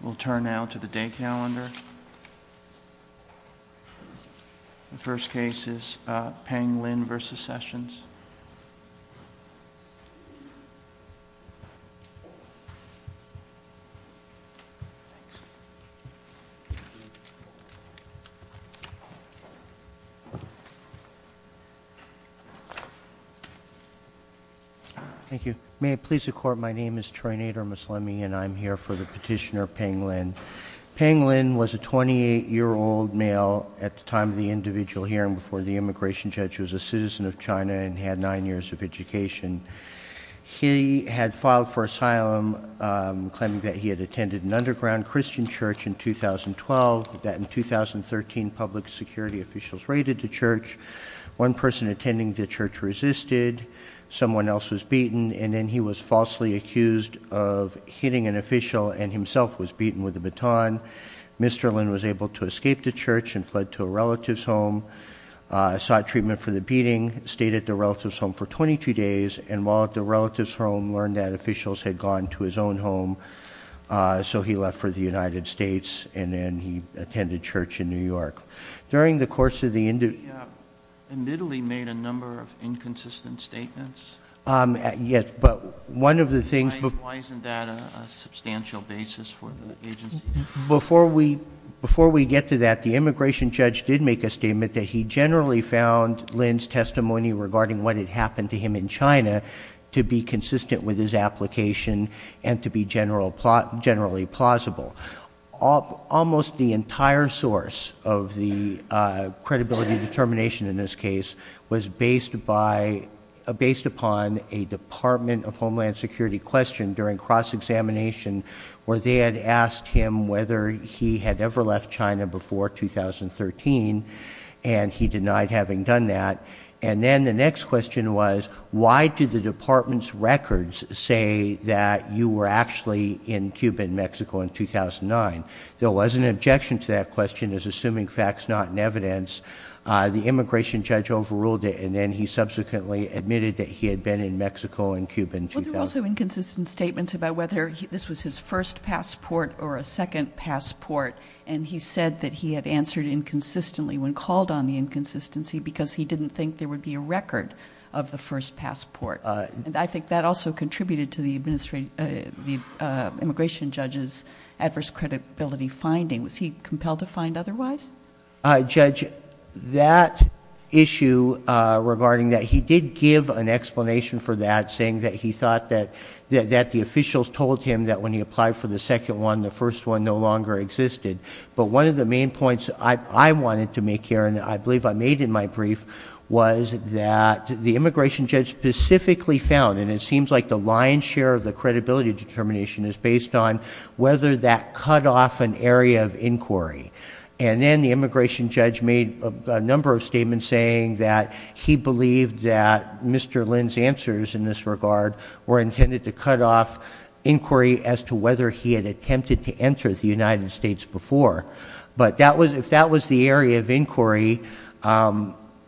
We'll turn now to the day calendar. The first case is Pang Lin v. Sessions. Thank you. May it please the Court, my name is Troy Nader Maslami and I'm here for the petitioner, Pang Lin. Pang Lin was a 28-year-old male at the time of the individual hearing before the immigration judge was a citizen of China and had nine years of education. He had filed for asylum claiming that he had attended an underground Christian church in 2012, that in 2013 public security officials raided the church, one person attending the church resisted, someone else was beaten, and then he was falsely accused of hitting an official and himself was beaten with a baton. Mr. Lin was able to escape the church and fled to a relative's home, sought treatment for the beating, stayed at the relative's home for 22 days, and while at the relative's home learned that officials had gone to his own home, so he left for the United States and then he attended church in New York. During the course of the interview... He admittedly made a number of inconsistent statements. Yes, but one of the things... Why isn't that a substantial basis for the agency? Before we get to that, the immigration judge did make a statement that he generally found Lin's testimony regarding what had happened to him in China to be consistent with his application and to be generally plausible. Almost the entire source of the credibility determination in this case was based upon a Department of Homeland Security question during cross-examination where they had asked him whether he had ever left China before 2013 and he denied having done that. And then the next question was why did the department's records say that you were actually in Cuba and Mexico in 2009? There was an objection to that question as assuming facts not in evidence, the immigration judge overruled it and then he subsequently admitted that he had been in Mexico and Cuba in 2009. Well, there were also inconsistent statements about whether this was his first passport or a second passport and he said that he had answered inconsistently when called on the inconsistency because he didn't think there would be a record of the first passport. And I think that also contributed to the immigration judge's adverse credibility finding. Was he compelled to find otherwise? Judge, that issue regarding that, he did give an explanation for that saying that he thought that the officials told him that when he applied for the second one, the first one no longer existed. But one of the main points I wanted to make here and I believe I made in my brief was that the immigration judge specifically found, and it seems like the lion's share of the credibility determination is based on whether that cut off an area of inquiry. And then the immigration judge made a number of statements saying that he believed that Mr. Lynn's answers in this regard were intended to cut off inquiry as to whether he had attempted to enter the United States before. But if that was the area of inquiry,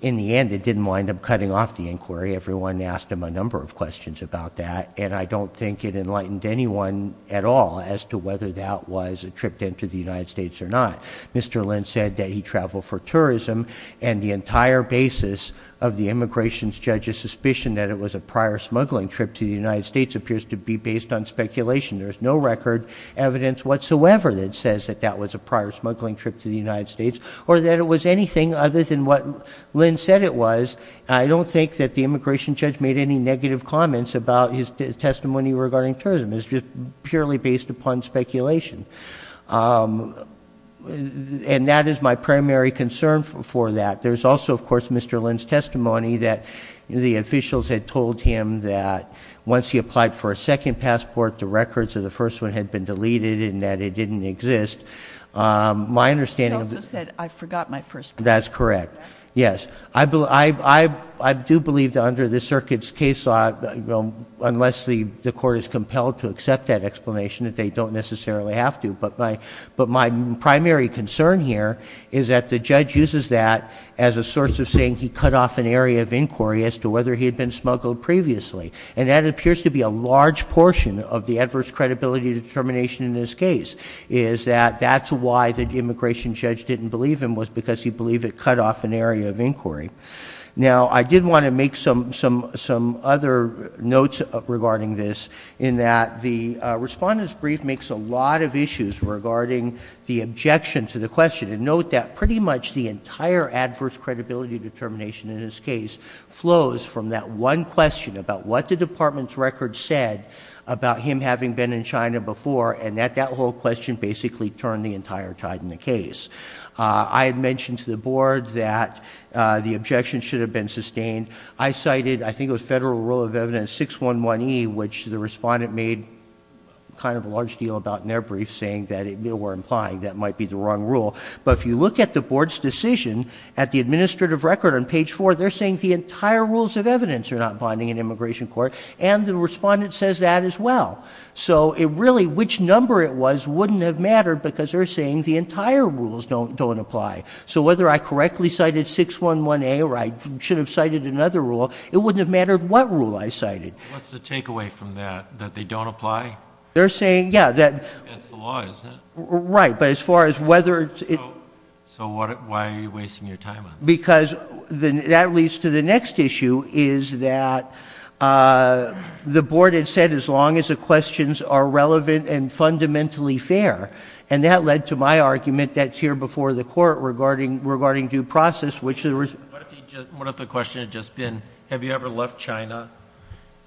in the end it didn't wind up cutting off the inquiry. Everyone asked him a number of questions about that and I don't think it enlightened anyone at all as to whether that was a trip to the United States or not. Mr. Lynn said that he traveled for tourism and the entire basis of the immigration judge's suspicion that it was a prior smuggling trip to the United States appears to be based on speculation. There's no record evidence whatsoever that says that that was a prior smuggling trip to the United States or that it was anything other than what Lynn said it was. I don't think that the immigration judge made any negative comments about his testimony regarding tourism. It's just purely based upon speculation. And that is my primary concern for that. There's also, of course, Mr. Lynn's testimony that the officials had told him that once he applied for a second passport, the records of the first one had been deleted and that it didn't exist. My understanding of this He also said, I forgot my first passport. That's correct. Yes. I do believe that under the circuit's case law unless the court is compelled to accept that explanation that they don't necessarily have to. But my primary concern here is that the judge uses that as a source of saying he cut off an area of inquiry as to whether he had been smuggled previously. And that appears to be a large portion of the adverse credibility determination in this case is that that's why the immigration judge didn't believe him was because he believed it cut off an area of inquiry. Now, I did want to make some other notes regarding this in that the Respondent's Brief makes a lot of issues regarding the objection to the question. And note that pretty much the entire adverse credibility determination in this case flows from that one question about what the Department's records said about him having been in China before and that that whole question basically turned the entire tide in the case. I had mentioned to the Board that the objection should have been sustained. I cited, I think it was Federal Rule of Evidence 611E, which the Respondent made kind of a large deal about in their brief saying that they were implying that might be the wrong rule. But if you look at the Board's decision at the administrative record on page 4, they're saying the entire rules of evidence are not binding in immigration court. And the Respondent says that as well. So it really, which number it was wouldn't have mattered because they're saying the entire rules don't apply. So whether I correctly cited 611A or I should have cited another rule, it wouldn't have mattered what rule I cited. What's the takeaway from that? That they don't apply? They're saying, yeah. That's the law, isn't it? Right. But as far as whether... So why are you wasting your time on this? Because that leads to the next issue is that the Board had said as long as the questions are relevant and fundamentally fair. And that led to my argument that's here before the Court regarding due process. What if the question had just been, have you ever left China?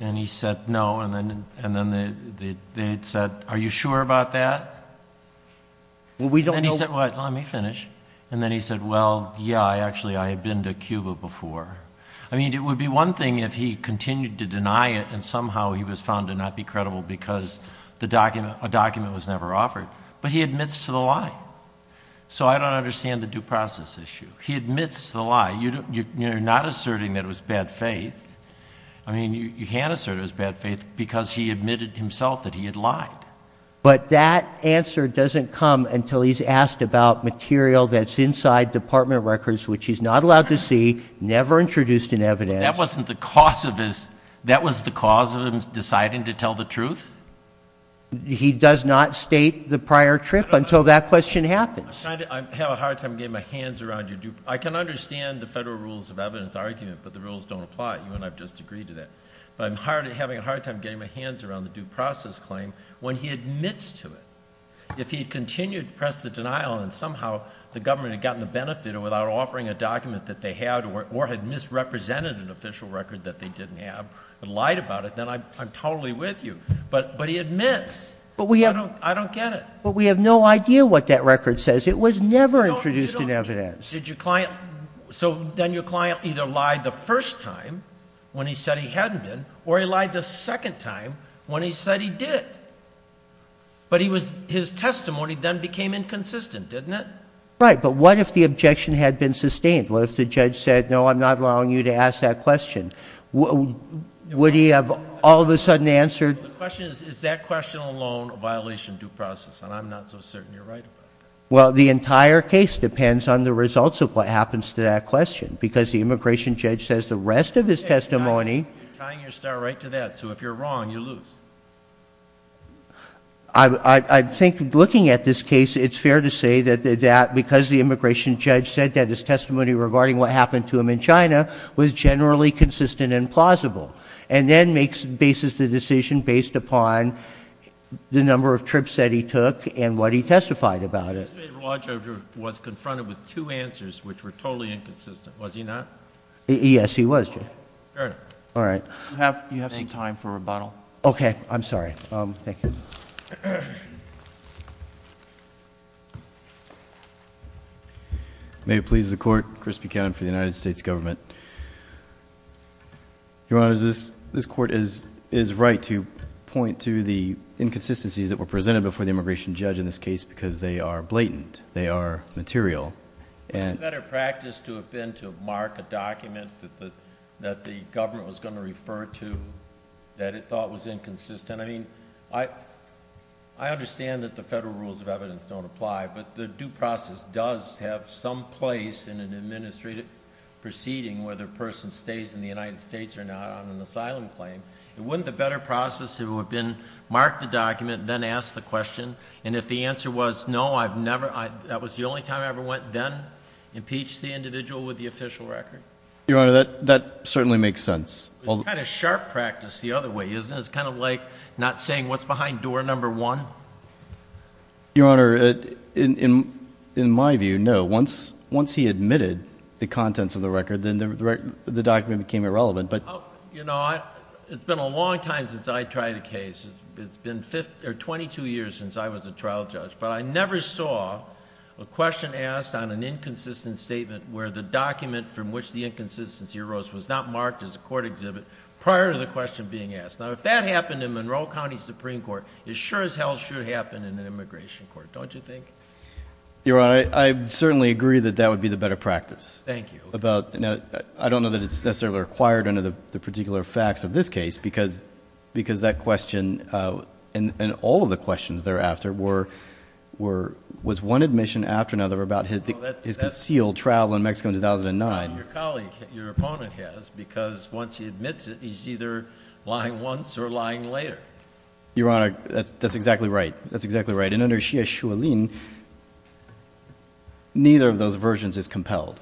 And he said, no. And then they said, are you sure about that? And then he said, well, let me finish. And then he said, well, yeah. Actually, I had been to Cuba before. I mean, it would be one thing if he continued to deny it and somehow he was found to not be credible because a document was never offered. But he admits to the lie. So I don't understand the due process issue. He admits to the lie. You're not asserting that it was bad faith. I mean, you can't assert it was bad faith because he admitted himself that he had lied. But that answer doesn't come until he's asked about material that's inside Department of Records which he's not allowed to see, never introduced in evidence. But that wasn't the cause of him deciding to tell the truth? He does not state the prior trip until that question happens. I have a hard time getting my hands around your due process. I can understand the federal rules of evidence argument, but the rules don't apply. You and I have just agreed to that. But I'm having a hard time getting my hands around the due process claim when he admits to it. If he continued to press the denial and somehow the government had gotten the benefit without offering a document that they had or had misrepresented an official record that they didn't have and lied about it, then I'm totally with you. But he admits. I don't get it. But we have no idea what that record says. It was never introduced in evidence. So then your client either lied the first time when he said he hadn't been or he lied the second time when he said he did. But his testimony then became inconsistent, didn't it? Right. But what if the objection had been sustained? What if the judge said, no, I'm not allowing you to ask that question? Would he have all of a sudden answered? The question is, is that question alone a violation of due process? And I'm not so certain you're right about that. Well, the entire case depends on the results of what happens to that question. Because the immigration judge says the rest of his testimony. You're tying your star right to that. So if you're wrong, you lose. I think looking at this case, it's fair to say that because the immigration judge said that his testimony regarding what happened to him in China was generally consistent and plausible. And then makes, bases the decision based upon the number of trips that he took and what he testified about it. The administrative law judge was confronted with two answers which were totally inconsistent. Was he not? Yes, he was, Judge. All right. Do you have some time for rebuttal? Okay. I'm sorry. Thank you. May it please the Court. Chris Buchanan for the United States Government. Your Honor, this Court is right to point to the inconsistencies that were presented before the immigration judge in this case because they are blatant. They are material. What better practice to have been to mark a document that the government was going to refer to that it thought was inconsistent? I mean, I understand that the federal rules of evidence don't apply, but the due process does have some place in an administrative proceeding where the person stays in the United States or not on an asylum claim. Wouldn't the better process have been mark the document, then ask the question, and if the answer was no, that was the only time I ever went, then impeach the individual with the official record? Your Honor, that certainly makes sense. It's kind of sharp practice the other way, isn't it? It's kind of like not saying what's behind door number one. Your Honor, in my view, no. Once he admitted the contents of the record, then the document became irrelevant. It's been a long time since I tried a case. It's been 22 years since I was a trial judge, but I never saw a question asked on an inconsistent statement where the document from which the inconsistency arose was not marked as a court exhibit prior to the question being asked. Now, if that happened in Monroe County Supreme Court, it sure as hell should happen in an immigration court, don't you think? Your Honor, I certainly agree that that would be the better practice. Thank you. I don't know that it's necessarily required under the particular facts of this case, because that question and all of the questions thereafter was one admission after another about his concealed travel in Mexico in 2009. Your colleague, your opponent has, because once he admits it, he's either lying once or lying later. Your Honor, that's exactly right. That's exactly right. And under Xie Xuelin, neither of those versions is compelled.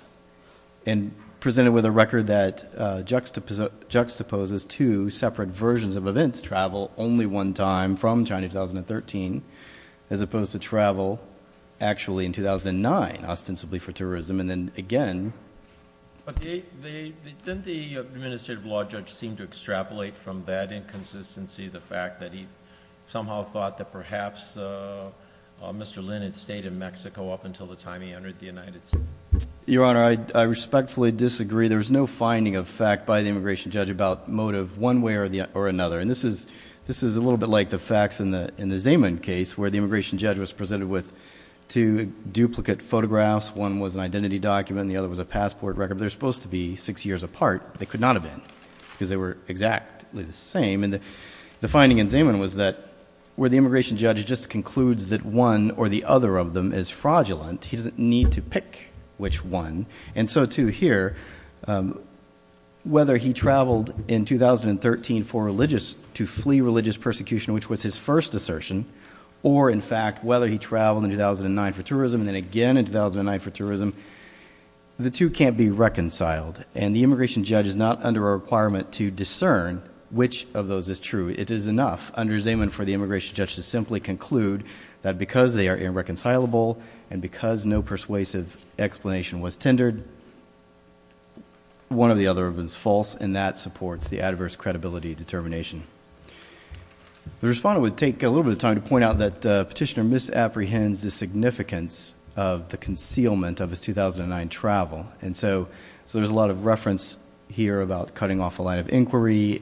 Presented with a record that juxtaposes two separate versions of events, travel only one time from China in 2013, as opposed to travel actually in 2009 ostensibly for terrorism, and then again. Didn't the administrative law judge seem to extrapolate from that inconsistency the fact that he somehow thought that perhaps Mr. Lin had stayed in Mexico up until the time he entered the United States? Your Honor, I respectfully disagree. There was no finding of fact by the immigration judge about motive one way or another. And this is a little bit like the facts in the Zeman case, where the immigration judge was presented with two duplicate photographs. One was an identity document and the other was a passport record. They're supposed to be six years apart. They could not have been, because they were exactly the same. And the finding in Zeman was that where the immigration judge just concludes that one or the other of them is fraudulent, he doesn't need to pick which one. And so, too, here, whether he traveled in 2013 for religious to flee religious persecution, which was his first assertion, or in fact, whether he traveled in 2009 for tourism and then again in 2009 for tourism, the two can't be reconciled. And the immigration judge is not under a requirement to discern which of those is true. It is enough under Zeman for the immigration judge to simply conclude that because they are irreconcilable and because no persuasive explanation was tendered, one or the other of them is false, and that supports the adverse credibility determination. The respondent would take a little bit of time to point out that Petitioner misapprehends the significance of the concealment of his 2009 travel. And so there's a lot of reference here about cutting off a line of inquiry.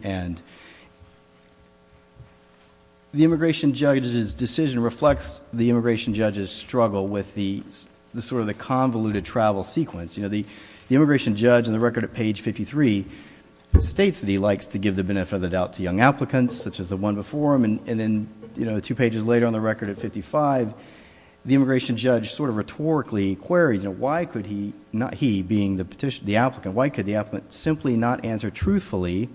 The immigration judge's decision reflects the immigration judge's struggle with the convoluted travel sequence. The immigration judge in the record at page 53 states that he likes to give the benefit of the doubt to young applicants, such as the one before him. And then two pages later on the record at 55, the immigration judge sort of rhetorically queries, why could he, not he, being the applicant, why could the applicant simply not answer truthfully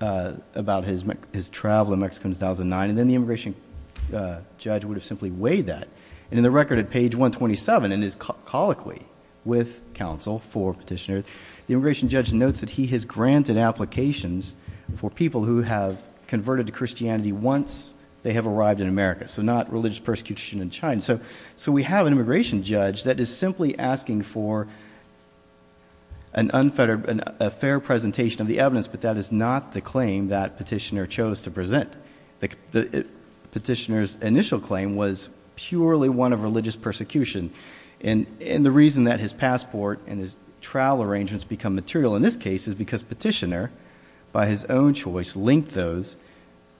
about his travel in Mexico in 2009? And then the immigration judge would have simply weighed that. And in the record at page 127 in his colloquy with counsel for Petitioner, the immigration judge notes that he has granted applications for people who have converted to Christianity once they have arrived in America. So not religious persecution in China. So we have an immigration judge that is simply asking for an unfair presentation of the evidence, but that is not the claim that Petitioner chose to present. Petitioner's initial claim was purely one of religious persecution. And the reason that his passport and his travel arrangements become material in this case is because Petitioner by his own choice linked those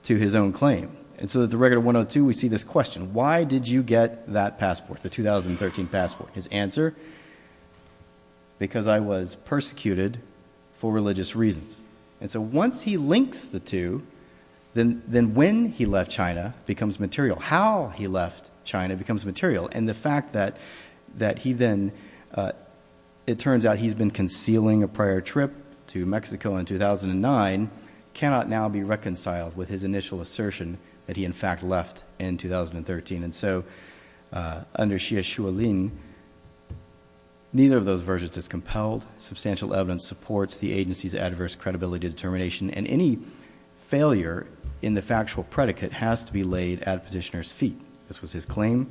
to his own claim. And so at the record at 102 we see this question, why did you get that passport, the 2013 passport? His answer, because I was persecuted for religious reasons. And so once he links the two, then when he left China becomes material. How he left China becomes material. And the fact that he then, it turns out he's been concealing a prior trip to Mexico in 2009 cannot now be reconciled with his initial assertion that he in fact left in 2013. And so under Xie Xuelin neither of those versions is compelled. Substantial evidence supports the agency's adverse credibility determination. And any failure in the factual predicate has to be laid at Petitioner's feet. This was his claim.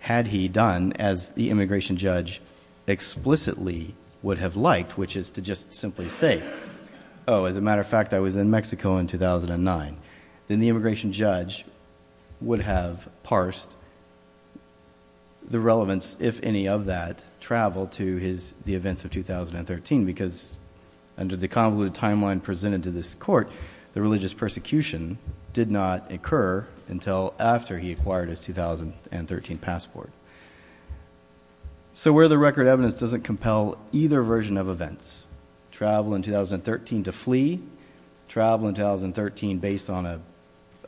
Had he done as the immigration judge explicitly would have liked, which is to just simply say oh, as a matter of fact I was in Mexico in 2009, then the immigration judge would have parsed the relevance, if any of that, travel to the events of 2013. Because under the convoluted timeline presented to this court, the religious persecution did not occur until after he acquired his 2013 passport. So where the record evidence doesn't compel either version of events, travel in 2013 to flee, travel in 2013 based on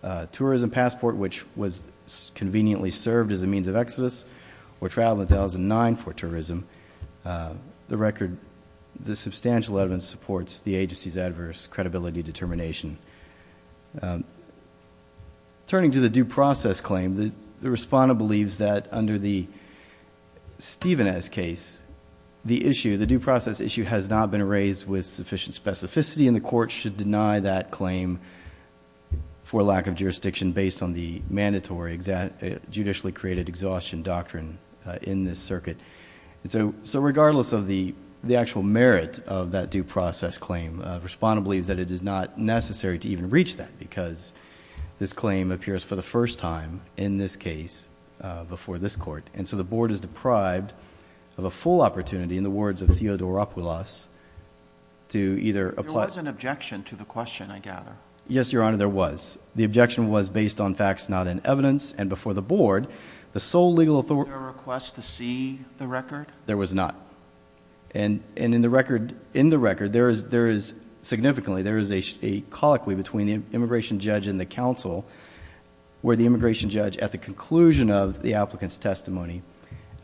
a tourism passport which was conveniently served as a means of exodus, or travel in 2009 for tourism, the record, the substantial evidence supports the agency's adverse credibility determination. Turning to the due process claim, the respondent believes that under the Stevens case, the issue, the due process issue has not been raised with sufficient specificity and the court should deny that claim for lack of jurisdiction based on the mandatory judicially created exhaustion doctrine in this circuit. So regardless of the actual merit of that due process claim, the respondent believes that it is not necessary to even reach that because this claim appears for the first time in this case before this court. And so the board is deprived of a full opportunity, in the words of Theodoropoulos, to either apply... There was an objection to the question, I gather. Yes, Your Honor, there was. The objection was based on facts not in evidence and before the board, the sole legal authority... Was there a request to see the record? There was not. And in the record, there is, significantly, there is a colloquy between the immigration judge and the counsel where the immigration judge, at the conclusion of the applicant's testimony,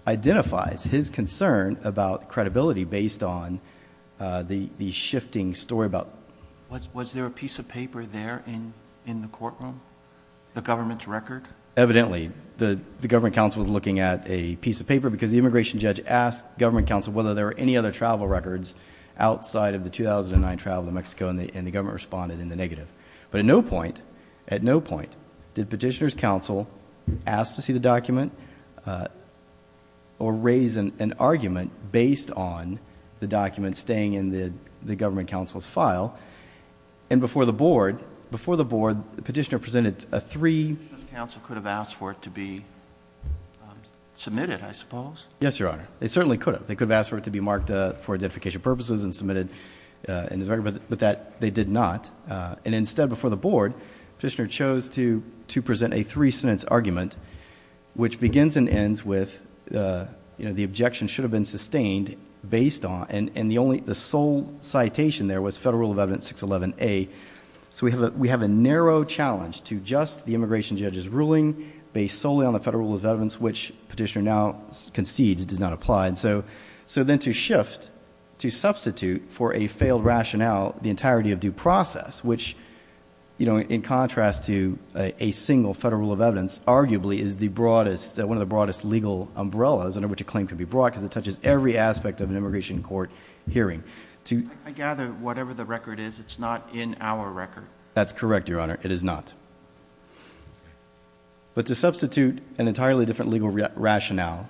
identifies his concern about credibility based on the shifting story about... Was there a piece of paper there in the courtroom? The government's record? Evidently. The government counsel was looking at a piece of paper because the immigration judge asked government counsel whether there were any other travel records outside of the 2009 travel to Mexico and the government responded in the negative. But at no point, at no point, did petitioner's counsel ask to see the document or raise an argument based on the document staying in the government counsel's file. And before the board, before the board, the petitioner presented a three... The petitioner's counsel could have asked for it to be submitted, I suppose. Yes, Your Honor. They certainly could have. They could have asked for it to be marked for identification purposes and submitted in his record, but they did not. And instead, before the board, petitioner chose to present a three-sentence argument which begins and ends with, you know, the objection should have been sustained based on... And the only, the sole citation there was Federal Rule of Evidence 611A. So we have a narrow challenge to just the immigration judge's ruling based solely on the Federal Rule of Evidence, which petitioner now concedes does not apply. And so then to shift to substitute for a failed rationale the entirety of due process which, you know, in contrast to a single Federal Rule of Evidence, arguably is the broadest, one of the broadest legal umbrellas under which a claim can be brought because it touches every aspect of an immigration court hearing. I gather whatever the record is, it's not in our record. That's correct, Your Honor. It is not. But to substitute an entirely different legal rationale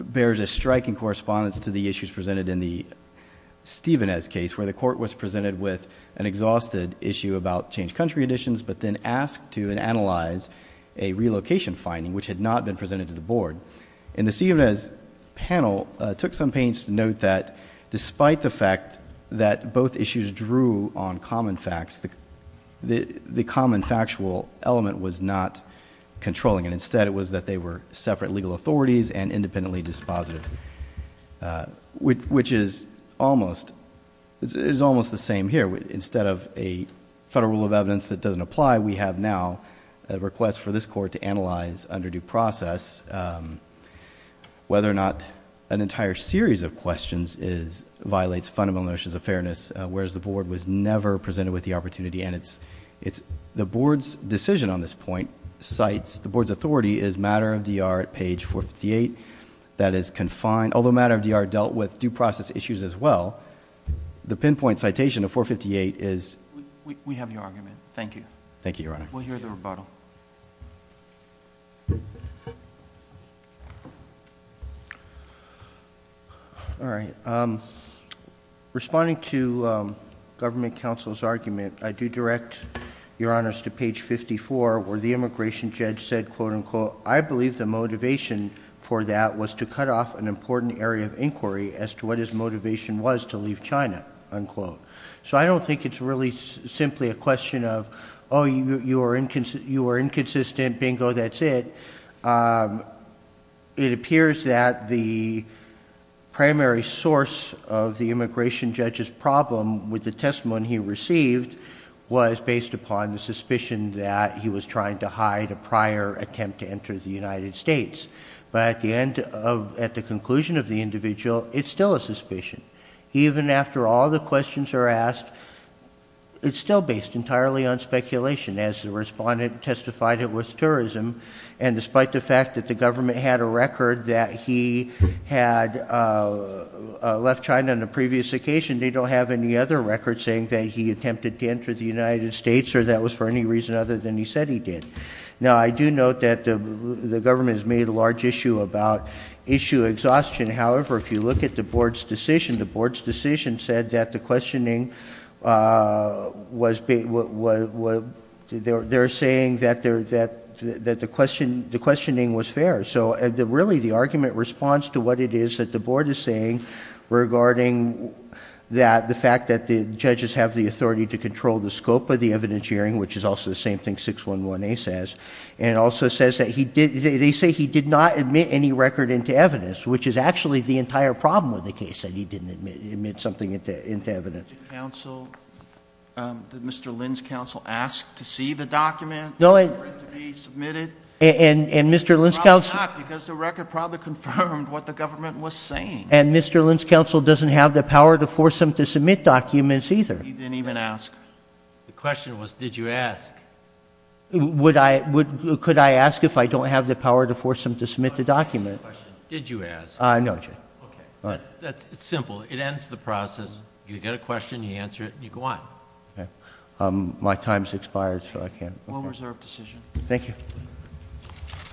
bears a striking correspondence to the issues presented in the Stevenez case where the court was presented with an exhausted issue about changed country additions but then asked to analyze a relocation finding which had not been presented to the board. And the Stevenez panel took some pains to note that despite the fact that both issues drew on common facts, the common factual element was not controlling it. Instead it was that they were separate legal authorities and independently dispositive. Which is almost the same here. Instead of a Federal Rule of Evidence that doesn't apply, we have now a request for this court to analyze under due process whether or not an entire series of questions violates fundamental notions of fairness whereas the board was never presented with the opportunity and the board's decision on this point cites the board's authority is matter of D.R. at page 458 that is confined, although matter of D.R. dealt with due process issues as well the pinpoint citation of 458 is... We have your argument. Thank you. Thank you, Your Honor. We'll hear the rebuttal. All right. Responding to the government counsel's argument, I do direct Your Honor to page 54 where the immigration judge said, quote, unquote, I believe the motivation for that was to cut off an important area of inquiry as to what his motivation was to leave China, unquote. So I don't think it's really simply a question of, oh, you are inconsistent, bingo, that's it. It appears that the primary source of the immigration judge's problem with the testimony he received was based upon the suspicion that he was trying to hide a prior attempt to enter the United States. But at the end of... At the conclusion of the individual, it's still a suspicion. Even after all the questions are asked, it's still based entirely on speculation as the respondent testified it was tourism and despite the fact that the government had a record that he had left China on a previous occasion, they don't have any other record saying that he attempted to enter the United States or that was for any reason other than he said he did. Now, I do note that the government has made a large issue about issue exhaustion. However, if you look at the board's decision, the board's decision said that the questioning was... They're saying that the questioning was fair. So really the argument responds to what it is that the board is saying regarding that the fact that the judges have the authority to control the scope of the evidence hearing, which is also the same thing 611A says, and also says that he did... They say he did not admit any record into evidence, which is actually the entire problem with the case, that he didn't admit something into evidence. Mr. Linds' counsel asked to see the document for it to be submitted. Probably not, because the record probably confirmed what the government was saying. And Mr. Linds' counsel doesn't have the power to force him to submit documents either. He didn't even ask. The question was, did you ask? Could I ask if I don't have the power to force him to submit the document? Did you ask? No, Judge. It's simple. It ends the process. You get a question, you answer it, and you go on. My time's expired, so I can't... One reserved decision. Thank you.